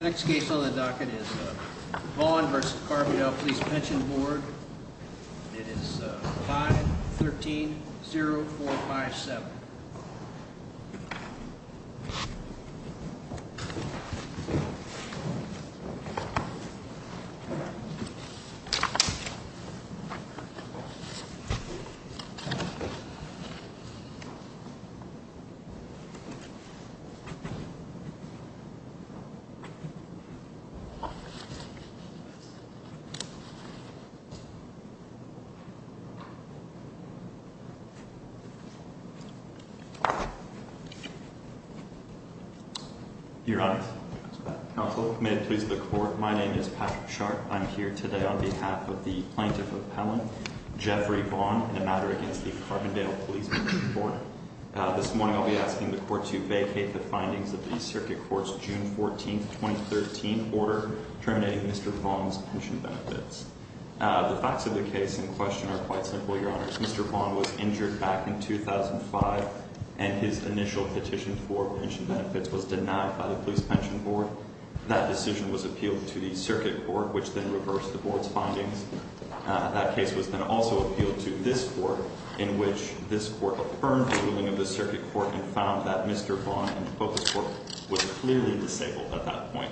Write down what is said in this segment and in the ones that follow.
Next case on the docket is Vaughn v. Carbondale Police Pension Board. It is 5-13-0457. Your Honor, counsel, may it please the court, my name is Patrick Sharpe. I'm here today on behalf of the plaintiff appellant, Jeffrey Vaughn, in a matter against the Carbondale Police Pension Board. This morning I'll be asking the court to vacate the findings of the Circuit Court's June 14, 2013 order terminating Mr. Vaughn's pension benefits. The facts of the case in question are quite simple, Your Honor. Mr. Vaughn was injured back in 2005 and his initial petition for pension benefits was denied by the Police Pension Board. That decision was appealed to the Circuit Court, which then reversed the board's findings. That case was then also appealed to this court, in which this court affirmed the ruling of the Circuit Court and found that Mr. Vaughn in the focus court was clearly disabled at that point.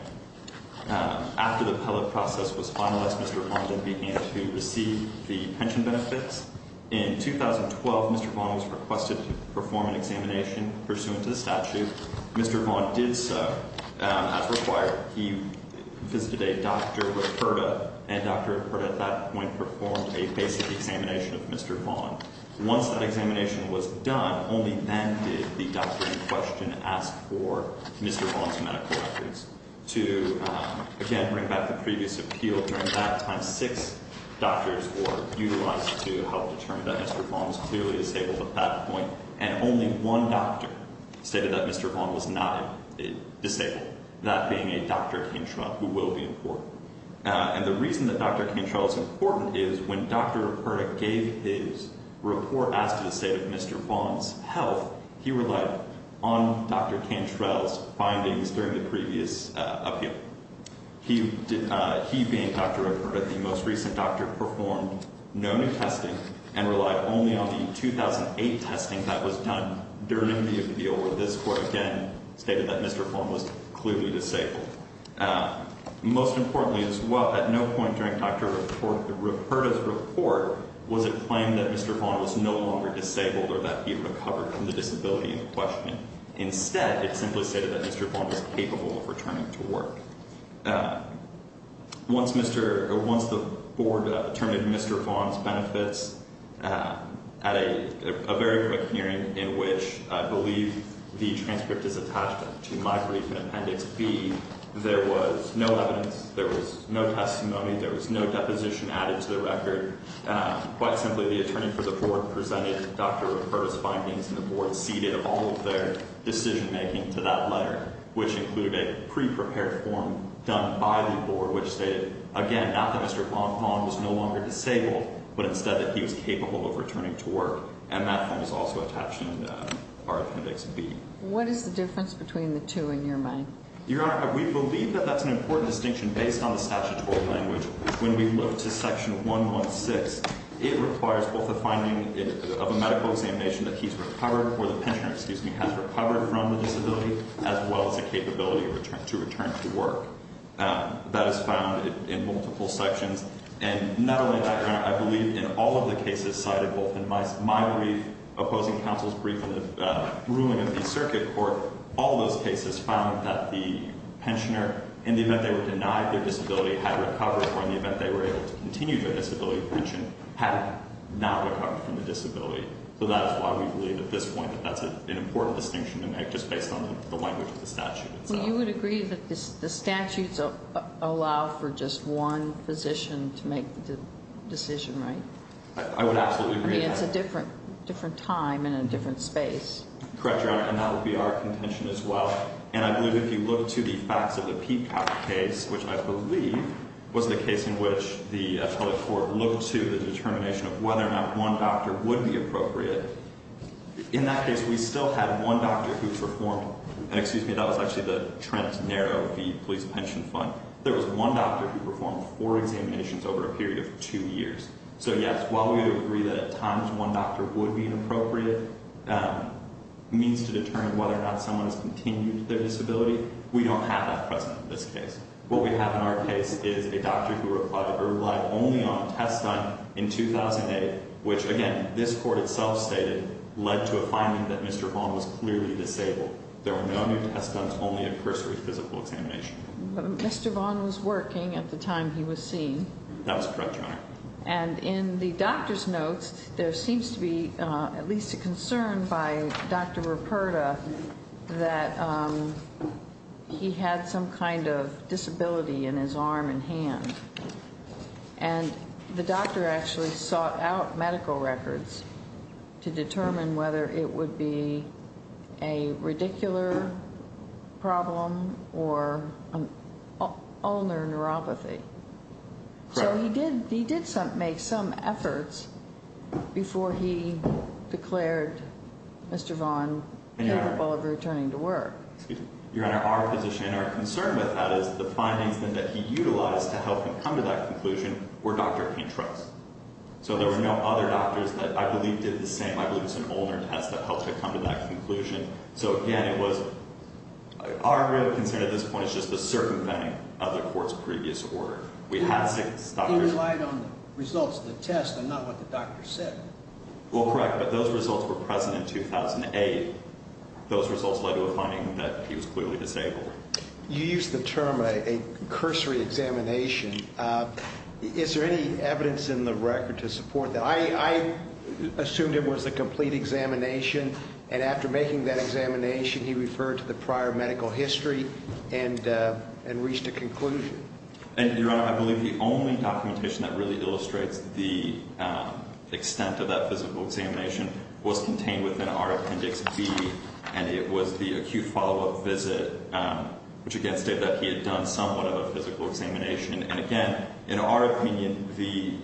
After the appellate process was finalized, Mr. Vaughn then began to receive the pension benefits. In 2012, Mr. Vaughn was requested to perform an examination pursuant to the statute. Mr. Vaughn did so. As required, he visited a doctor with HERDA, and Dr. HERDA at that point performed a basic examination of Mr. Vaughn. Once that examination was done, only then did the doctor in question ask for Mr. Vaughn's medical records. To, again, bring back the previous appeal, during that time six doctors were utilized to help determine that Mr. Vaughn was clearly disabled at that point, and only one doctor stated that Mr. Vaughn was not disabled, that being a Dr. Cantrell, who will be in court. And the reason that Dr. Cantrell is important is when Dr. HERDA gave his report as to the state of Mr. Vaughn's health, he relied on Dr. Cantrell's findings during the previous appeal. He, being Dr. HERDA, the most recent doctor, performed no new testing and relied only on the 2008 testing that was done during the appeal where this court, again, stated that Mr. Vaughn was clearly disabled. Most importantly as well, at no point during Dr. HERDA's report was it claimed that Mr. Vaughn was no longer disabled or that he recovered from the disability in question. Instead, it simply stated that Mr. Vaughn was capable of returning to work. Once the board determined Mr. Vaughn's benefits, at a very quick hearing in which I believe the transcript is attached to my brief in Appendix B, there was no evidence, there was no testimony, there was no deposition added to the record. Quite simply, the attorney for the board presented Dr. HERDA's findings and the board ceded all of their decision-making to that letter, which included a pre-prepared form done by the board, which stated, again, not that Mr. Vaughn was no longer disabled, but instead that he was capable of returning to work. And that form is also attached in our Appendix B. What is the difference between the two in your mind? Your Honor, we believe that that's an important distinction based on the statutory language. When we look to Section 116, it requires both a finding of a medical examination that he's recovered, or the pensioner, excuse me, has recovered from the disability, as well as a capability to return to work. That is found in multiple sections. And not only that, Your Honor, I believe in all of the cases cited, both in my brief, opposing counsel's brief, and the ruling of the circuit court, all those cases found that the pensioner, in the event they were denied their disability, had recovered, or in the event they were able to continue their disability pension, had not recovered from the disability. So that is why we believe at this point that that's an important distinction to make, just based on the language of the statute itself. So you would agree that the statutes allow for just one physician to make the decision, right? I would absolutely agree. I mean, it's a different time and a different space. Correct, Your Honor. And that would be our contention as well. And I believe if you look to the facts of the Peacock case, which I believe was the case in which the public court looked to the determination of whether or not one doctor would be appropriate, in that case we still had one doctor who performed, and excuse me, that was actually the Trent Narrow v. Police Pension Fund. There was one doctor who performed four examinations over a period of two years. So, yes, while we would agree that at times one doctor would be an appropriate means to determine whether or not someone has continued their disability, we don't have that present in this case. What we have in our case is a doctor who replied that her reply only on a test done in 2008, which, again, this court itself stated led to a finding that Mr. Vaughn was clearly disabled. There were no new test dones, only a cursory physical examination. Mr. Vaughn was working at the time he was seen. That was correct, Your Honor. And in the doctor's notes, there seems to be at least a concern by Dr. Ruperta that he had some kind of disability in his arm and hand. And the doctor actually sought out medical records to determine whether it would be a radicular problem or an ulnar neuropathy. Correct. So he did make some efforts before he declared Mr. Vaughn capable of returning to work. Excuse me. Your Honor, our position and our concern with that is the findings that he utilized to help him come to that conclusion were Dr. A. Truss. So there were no other doctors that I believe did the same. I believe it was an ulnar test that helped him come to that conclusion. So, again, it was our real concern at this point is just the circumventing of the court's previous order. We had six doctors. In light on the results of the test and not what the doctor said. Well, correct, but those results were present in 2008. Those results led to a finding that he was clearly disabled. You used the term a cursory examination. Is there any evidence in the record to support that? I assumed it was a complete examination. And after making that examination, he referred to the prior medical history and reached a conclusion. And, Your Honor, I believe the only documentation that really illustrates the extent of that physical examination was contained within our Appendix B. And it was the acute follow-up visit, which, again, stated that he had done somewhat of a physical examination. And, again, in our opinion, the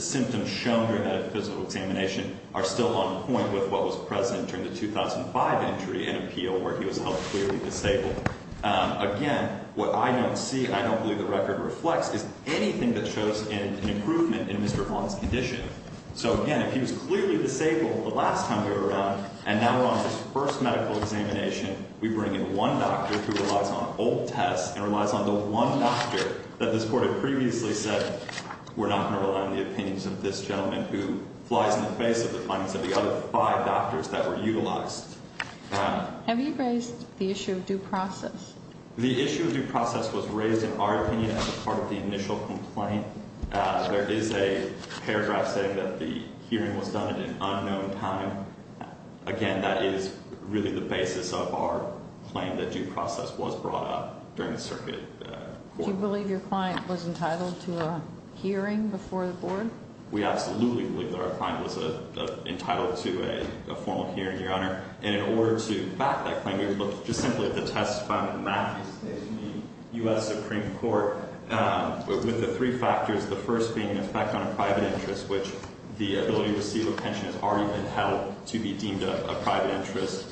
symptoms shown during that physical examination are still on point with what was present during the 2005 entry and appeal where he was held clearly disabled. Again, what I don't see and I don't believe the record reflects is anything that shows an improvement in Mr. Vaughn's condition. So, again, if he was clearly disabled the last time we were around and now we're on his first medical examination, we bring in one doctor who relies on old tests and relies on the one doctor that this Court had previously said, we're not going to rely on the opinions of this gentleman who flies in the face of the findings of the other five doctors that were utilized. Have you raised the issue of due process? The issue of due process was raised in our opinion as a part of the initial complaint. There is a paragraph saying that the hearing was done at an unknown time. Again, that is really the basis of our claim that due process was brought up during the circuit court. Do you believe your client was entitled to a hearing before the Board? We absolutely believe that our client was entitled to a formal hearing, Your Honor. And in order to back that claim, we would look just simply at the testifying of Matt in the U.S. Supreme Court with the three factors, the first being an effect on a private interest, which the ability to receive a pension has already been held to be deemed a private interest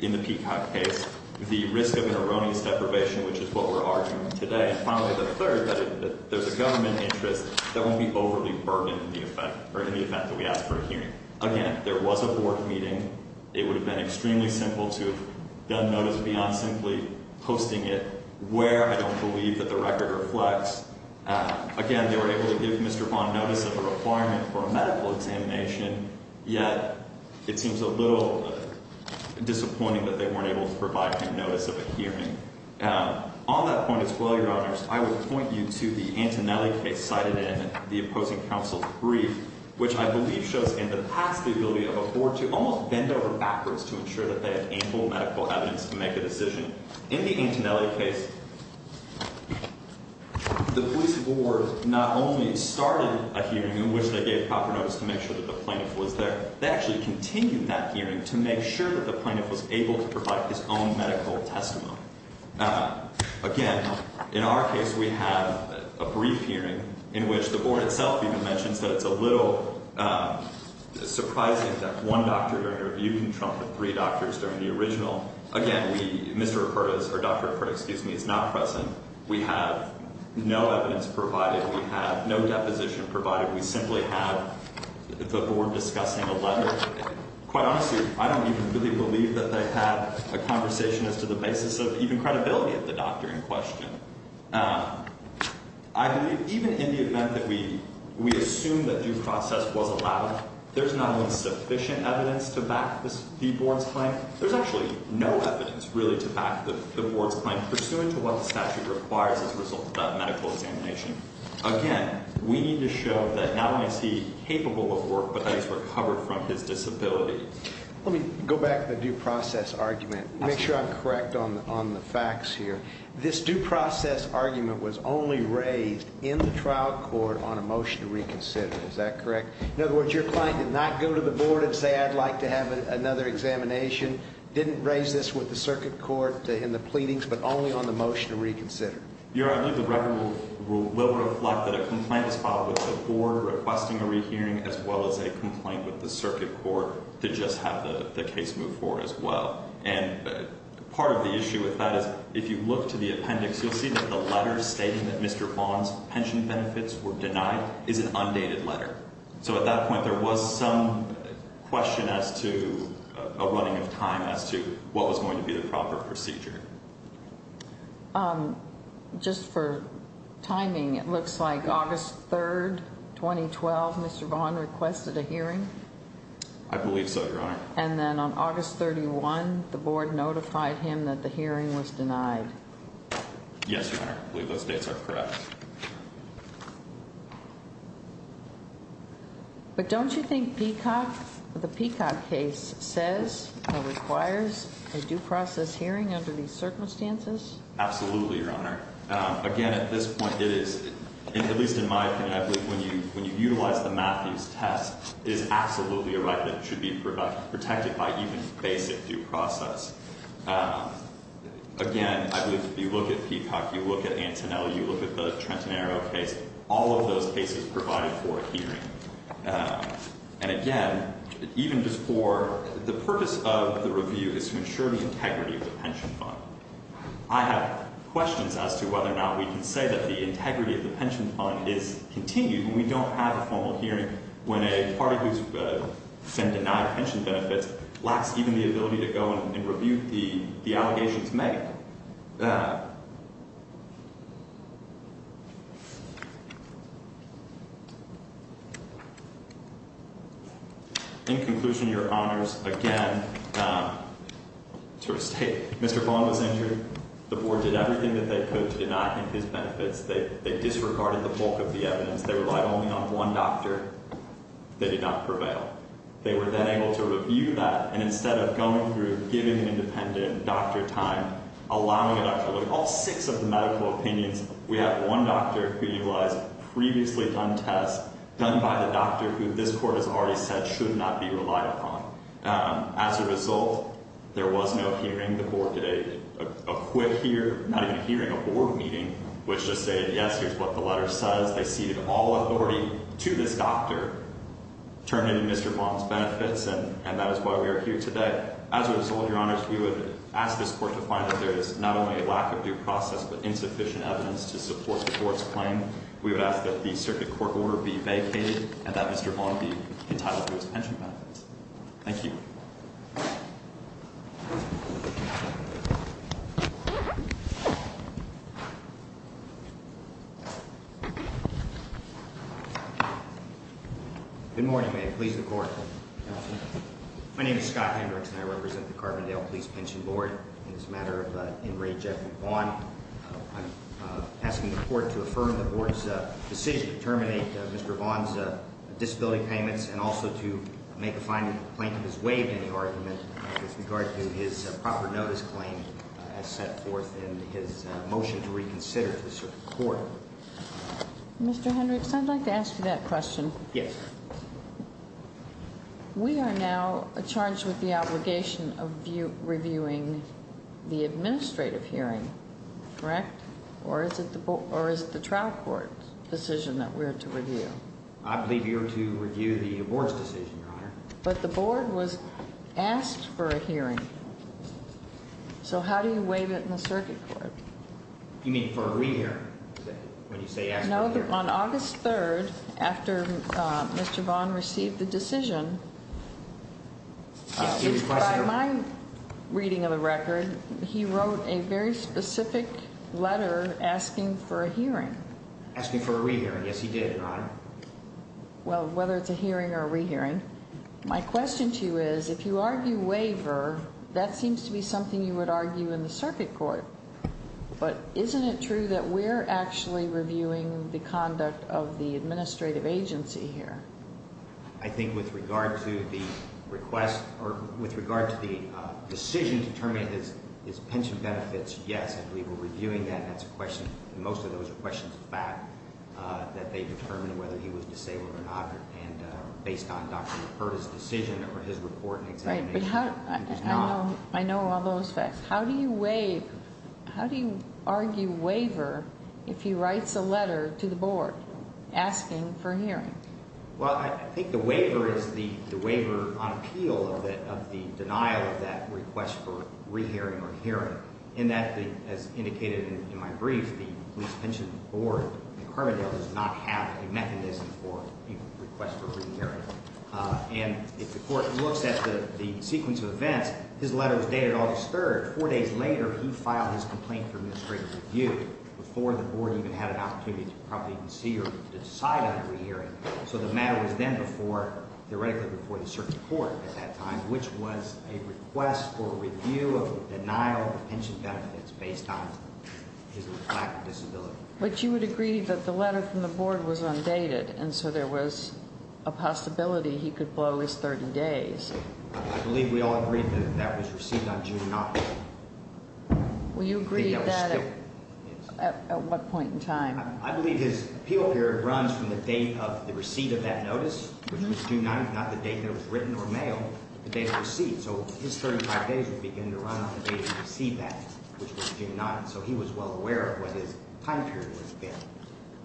in the Peacock case, the risk of an erroneous deprivation, which is what we're arguing today, and finally, the third, that there's a government interest that won't be overly burdened in the event that we ask for a hearing. Again, there was a Board meeting. It would have been extremely simple to have done notice beyond simply posting it where I don't believe that the record reflects. Again, they were able to give Mr. Vaughn notice of a requirement for a medical examination, yet it seems a little disappointing that they weren't able to provide him notice of a hearing. On that point as well, Your Honors, I would point you to the Antonelli case cited in the opposing counsel's brief, which I believe shows in the past the ability of a Board to almost bend over backwards to ensure that they have ample medical evidence to make a decision. In the Antonelli case, the police board not only started a hearing in which they gave proper notice to make sure that the plaintiff was there, they actually continued that hearing to make sure that the plaintiff was able to provide his own medical testimony. Again, in our case we have a brief hearing in which the Board itself even mentions that it's a little surprising that one doctor during a review can trump the three doctors during the original. Again, Dr. Acurda is not present. We have no evidence provided. We have no deposition provided. We simply have the Board discussing a letter. Quite honestly, I don't even really believe that they had a conversation as to the basis of even credibility of the doctor in question. I believe even in the event that we assume that due process was allowed, there's not even sufficient evidence to back the Board's claim. There's actually no evidence really to back the Board's claim pursuant to what the statute requires as a result of that medical examination. Again, we need to show that not only is he capable of work, but that he's recovered from his disability. Let me go back to the due process argument and make sure I'm correct on the facts here. This due process argument was only raised in the trial court on a motion to reconsider. Is that correct? In other words, your client did not go to the Board and say, I'd like to have another examination, didn't raise this with the circuit court in the pleadings, but only on the motion to reconsider. Your Honor, I believe the record will reflect that a complaint was filed with the Board requesting a rehearing as well as a complaint with the circuit court to just have the case move forward as well. And part of the issue with that is if you look to the appendix, you'll see that the letter stating that Mr. Vaughn's pension benefits were denied is an undated letter. So at that point, there was some question as to a running of time as to what was going to be the proper procedure. Just for timing, it looks like August 3rd, 2012, Mr. Vaughn requested a hearing. I believe so, Your Honor. And then on August 31, the Board notified him that the hearing was denied. Yes, Your Honor. I believe those dates are correct. But don't you think Peacock, the Peacock case, says it requires a due process hearing under these circumstances? Absolutely, Your Honor. Again, at this point, it is, at least in my opinion, I believe when you utilize the Matthews test, it is absolutely a right that it should be protected by even basic due process. Again, I believe if you look at Peacock, you look at Antonelli, you look at the Trenton Arrow case, all of those cases provided for a hearing. And again, even just for the purpose of the review is to ensure the integrity of the pension fund. I have questions as to whether or not we can say that the integrity of the pension fund is continued when we don't have a formal hearing, when a party who has been denied pension benefits lacks even the ability to go and review the allegations made. In conclusion, Your Honors, again, to restate, Mr. Vaughn was injured. The Board did everything that they could to deny him his benefits. They disregarded the bulk of the evidence. They relied only on one doctor. They did not prevail. They were then able to review that, and instead of going through, giving an independent doctor time, allowing a doctor to look at all six of the medical opinions, we have one doctor who utilized previously done tests, done by the doctor who this Court has already said should not be relied upon. As a result, there was no hearing. The Board did a quick hearing, not even a hearing, a Board meeting, which just said, yes, here's what the letter says. They ceded all authority to this doctor, turning to Mr. Vaughn's benefits, and that is why we are here today. As a result, Your Honors, we would ask this Court to find that there is not only a lack of due process but insufficient evidence to support the Court's claim. We would ask that the circuit court order be vacated and that Mr. Vaughn be entitled to his pension benefits. Thank you. Good morning, ma'am. Please, the Court. My name is Scott Hendricks, and I represent the Carbondale Police Pension Board. In this matter of enrage at Vaughn, I'm asking the Court to affirm the Board's decision to terminate Mr. Vaughn's disability payments and also to make a finding that the plaintiff has waived any argument with regard to his proper notice claim as set forth in his motion to reconsider to the circuit court. Mr. Hendricks, I'd like to ask you that question. Yes, ma'am. We are now charged with the obligation of reviewing the administrative hearing, correct? Or is it the trial court's decision that we're to review? I believe you're to review the Board's decision, Your Honor. But the Board was asked for a hearing, so how do you waive it in the circuit court? You mean for a rehearing? No, on August 3rd, after Mr. Vaughn received the decision, by my reading of the record, he wrote a very specific letter asking for a hearing. Asking for a rehearing. Yes, he did, Your Honor. Well, whether it's a hearing or a rehearing. My question to you is, if you argue waiver, that seems to be something you would argue in the circuit court. But isn't it true that we're actually reviewing the conduct of the administrative agency here? I think with regard to the request, or with regard to the decision to determine his pension benefits, yes, I believe we're reviewing that. Most of those are questions of fact, that they determine whether he was disabled or not. And based on Dr. LaPerda's decision or his report and examination, it is not. I know all those facts. How do you argue waiver if he writes a letter to the Board asking for a hearing? Well, I think the waiver is the waiver on appeal of the denial of that request for rehearing or hearing. And that, as indicated in my brief, the Police Pension Board in Carbondale does not have a mechanism for a request for a rehearing. And if the Court looks at the sequence of events, his letter was dated August 3rd. Four days later, he filed his complaint for administrative review before the Board even had an opportunity to probably even see or decide on a rehearing. So the matter was then before, theoretically before the circuit court at that time, which was a request for review of denial of pension benefits based on his lack of disability. But you would agree that the letter from the Board was undated, and so there was a possibility he could blow his 30 days. I believe we all agreed that that was received on June 9th. Well, you agreed that at what point in time? I believe his appeal period runs from the date of the receipt of that notice, which was June 9th, not the date that it was written or mailed, the date it was received. So his 35 days would begin to run on the date he received that, which was June 9th. So he was well aware of what his time period would have been.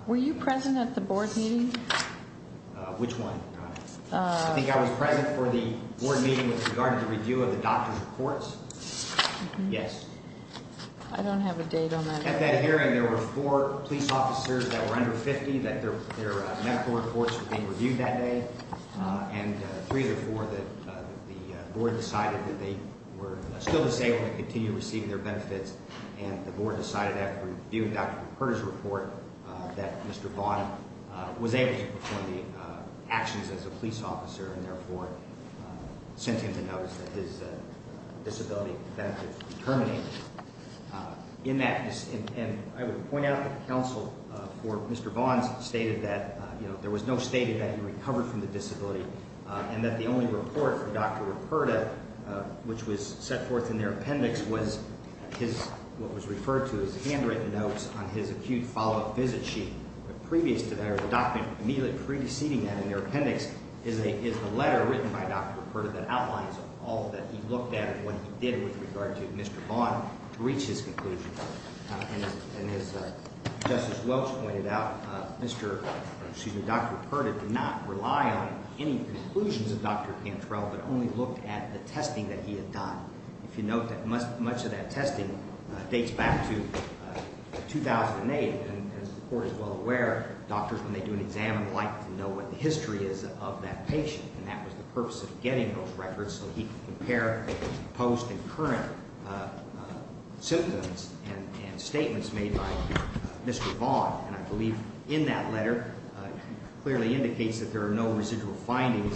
Were you present at the Board meeting? Which one? I think I was present for the Board meeting with regard to the review of the doctor's reports. Yes. I don't have a date on that. At that hearing, there were four police officers that were under 50, that their medical reports were being reviewed that day. And three of the four, the Board decided that they were still disabled and could continue receiving their benefits. And the Board decided after reviewing Dr. McCurdy's report that Mr. Vaughn was able to perform the actions as a police officer, and therefore sent him to notice that his disability benefits were terminated. And I would point out that the counsel for Mr. Vaughn stated that there was no stating that he recovered from the disability, and that the only report for Dr. Reperta, which was set forth in their appendix, was what was referred to as handwritten notes on his acute follow-up visit sheet. Previous to that, there was a document immediately preceding that in their appendix, is a letter written by Dr. Reperta that outlines all that he looked at and what he did with regard to Mr. Vaughn to reach his conclusions. And as Justice Welch pointed out, Dr. Reperta did not rely on any conclusions of Dr. Pantrell, but only looked at the testing that he had done. If you note that much of that testing dates back to 2008. And as the Court is well aware, doctors, when they do an exam, like to know what the history is of that patient. And that was the purpose of getting those records so he could compare post and current symptoms and statements made by Mr. Vaughn. And I believe in that letter, it clearly indicates that there are no residual findings.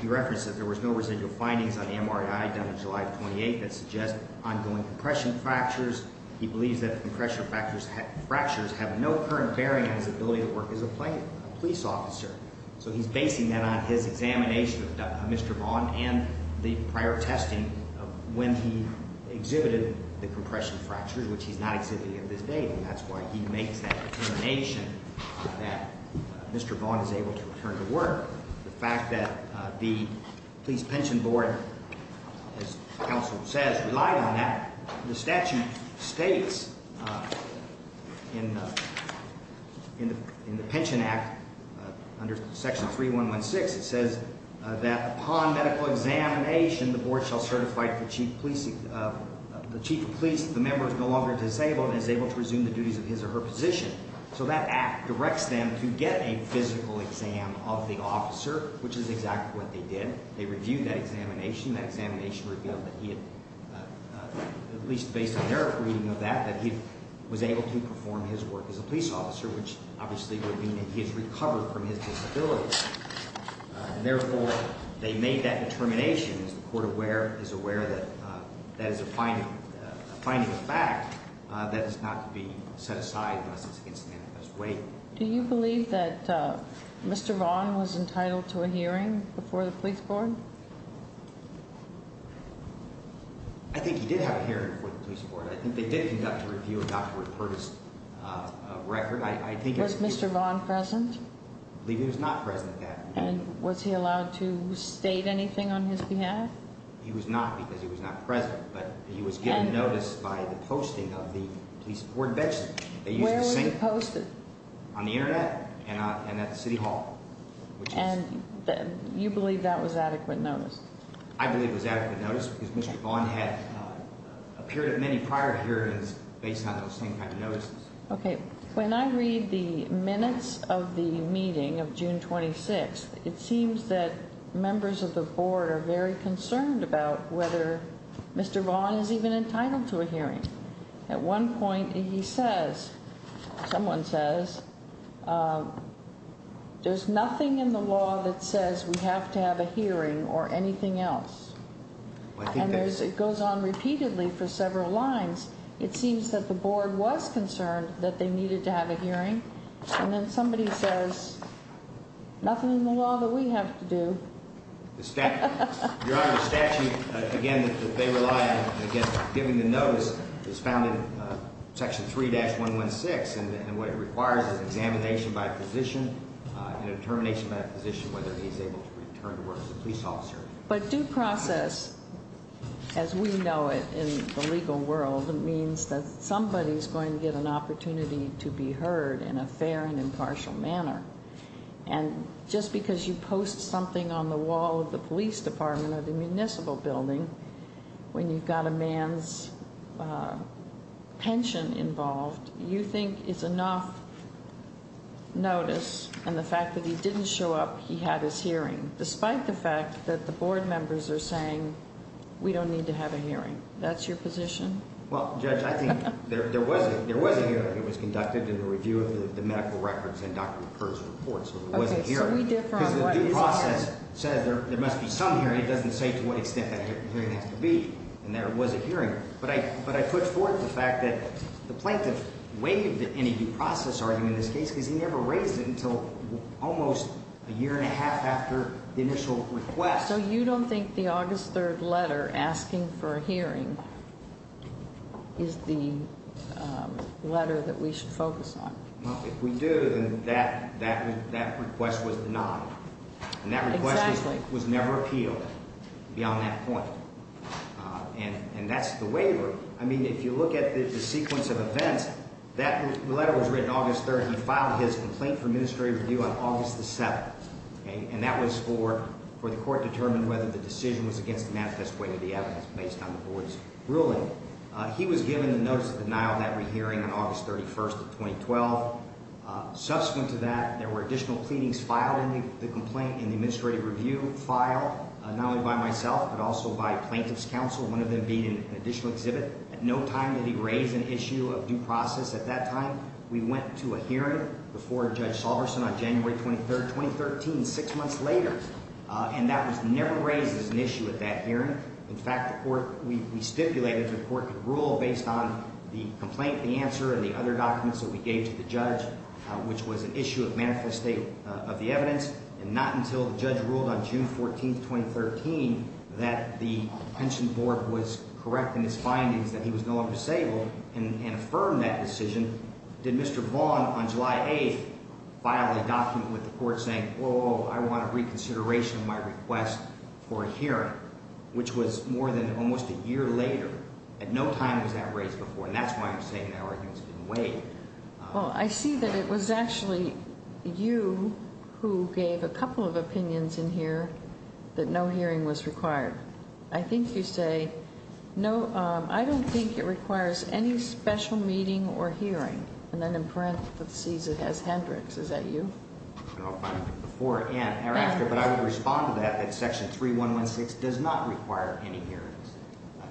He referenced that there was no residual findings on the MRI done on July 28th that suggest ongoing compression fractures. He believes that compression fractures have no current bearing on his ability to work as a police officer. So he's basing that on his examination of Mr. Vaughn and the prior testing of when he exhibited the compression fractures, which he's not exhibiting at this date, and that's why he makes that determination that Mr. Vaughn is able to return to work. The fact that the Police Pension Board, as counsel says, relied on that. The statute states in the Pension Act, under section 3116, it says that upon medical examination, the board shall certify the chief of police that the member is no longer disabled and is able to resume the duties of his or her position. So that act directs them to get a physical exam of the officer, which is exactly what they did. They reviewed that examination. That examination revealed that he had, at least based on their reading of that, that he was able to perform his work as a police officer, which obviously would mean that he has recovered from his disability. And therefore, they made that determination as the court is aware that that is a finding of fact that is not to be set aside unless it's against the manifest way. Do you believe that Mr. Vaughn was entitled to a hearing before the police board? I think he did have a hearing before the police board. I think they did conduct a review of Dr. Rupert's record. Was Mr. Vaughn present? I believe he was not present at that hearing. And was he allowed to state anything on his behalf? He was not because he was not present, but he was given notice by the posting of the police board bench. Where was it posted? On the Internet and at the city hall. And you believe that was adequate notice? I believe it was adequate notice because Mr. Vaughn had a period of many prior hearings based on those same kind of notices. Okay. When I read the minutes of the meeting of June 26th, it seems that members of the board are very concerned about whether Mr. Vaughn is even entitled to a hearing. At one point he says, someone says, there's nothing in the law that says we have to have a hearing or anything else. And it goes on repeatedly for several lines. It seems that the board was concerned that they needed to have a hearing. And then somebody says, nothing in the law that we have to do. Your Honor, the statute, again, that they rely on against giving the notice is found in section 3-116. And what it requires is examination by a physician and a determination by a physician whether he's able to return to work as a police officer. But due process, as we know it in the legal world, means that somebody's going to get an opportunity to be heard in a fair and impartial manner. And just because you post something on the wall of the police department or the municipal building when you've got a man's pension involved, you think it's enough notice and the fact that he didn't show up, he had his hearing. Despite the fact that the board members are saying, we don't need to have a hearing. That's your position? Well, Judge, I think there was a hearing. It was conducted in the review of the medical records and Dr. McCurdy's report. So there was a hearing. So we differ on what is a hearing. Because the due process says there must be some hearing. It doesn't say to what extent that hearing has to be. And there was a hearing. But I put forth the fact that the plaintiff waived any due process argument in this case because he never raised it until almost a year and a half after the initial request. So you don't think the August 3rd letter asking for a hearing is the letter that we should focus on? Well, if we do, then that request was denied. And that request was never appealed beyond that point. And that's the waiver. I mean, if you look at the sequence of events, that letter was written August 3rd. He filed his complaint for administrative review on August the 7th. And that was for the court to determine whether the decision was against the manifest way of the evidence based on the board's ruling. He was given the notice of denial of that hearing on August 31st of 2012. Subsequent to that, there were additional pleadings filed in the complaint in the administrative review file. Not only by myself, but also by plaintiff's counsel, one of them being an additional exhibit. At no time did he raise an issue of due process at that time. We went to a hearing before Judge Salverson on January 23rd, 2013, six months later. And that was never raised as an issue at that hearing. In fact, the court, we stipulated the court could rule based on the complaint, the answer, and the other documents that we gave to the judge, which was an issue of manifest state of the evidence. And not until the judge ruled on June 14th, 2013, that the pension board was correct in his findings that he was no longer disabled and affirmed that decision. Did Mr. Vaughn on July 8th file a document with the court saying, oh, I want a reconsideration of my request for a hearing. Which was more than almost a year later. At no time was that raised before. And that's why I'm saying that argument's been weighed. Well, I see that it was actually you who gave a couple of opinions in here that no hearing was required. I think you say, no, I don't think it requires any special meeting or hearing. And then in parentheses it has Hendricks. Is that you? Before and thereafter. But I would respond to that, that section 3116 does not require any hearings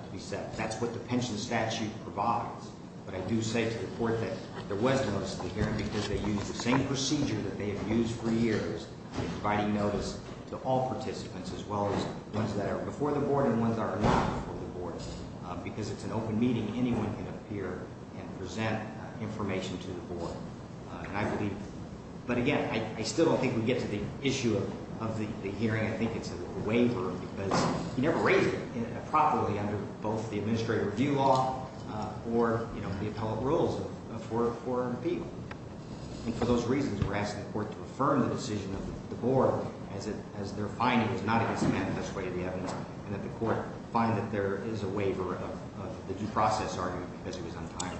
to be set. That's what the pension statute provides. But I do say to the court that there was notice of the hearing because they used the same procedure that they have used for years in providing notice to all participants. As well as ones that are before the board and ones that are not before the board. Because it's an open meeting, anyone can appear and present information to the board. But again, I still don't think we get to the issue of the hearing. I think it's a waiver because you never raise it properly under both the administrative review law or the appellate rules for an appeal. And for those reasons, we're asking the court to affirm the decision of the board as they're finding it's not against the manifest way of the evidence. And that the court find that there is a waiver of the due process argument because it was untimely.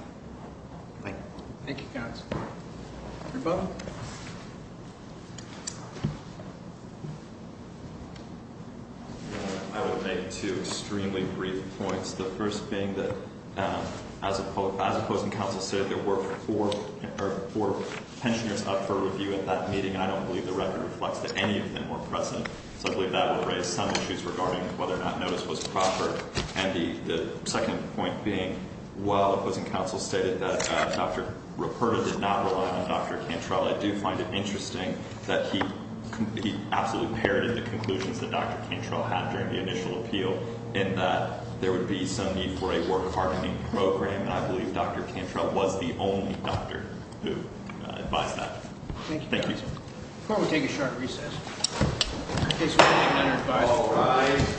Thank you. Thank you, counsel. Rebuttal. I will make two extremely brief points. The first being that as opposing counsel said, there were four pensioners up for review at that meeting. And I don't believe the record reflects that any of them were present. So I believe that would raise some issues regarding whether or not notice was proper. And the second point being, while opposing counsel stated that Dr. Ruperto did not rely on Dr. Cantrell, I do find it interesting that he absolutely parroted the conclusions that Dr. Cantrell had during the initial appeal. And that there would be some need for a work hardening program. And I believe Dr. Cantrell was the only doctor who advised that. Thank you. Thank you, sir. The court will take a short recess. In case we can't enter, all rise.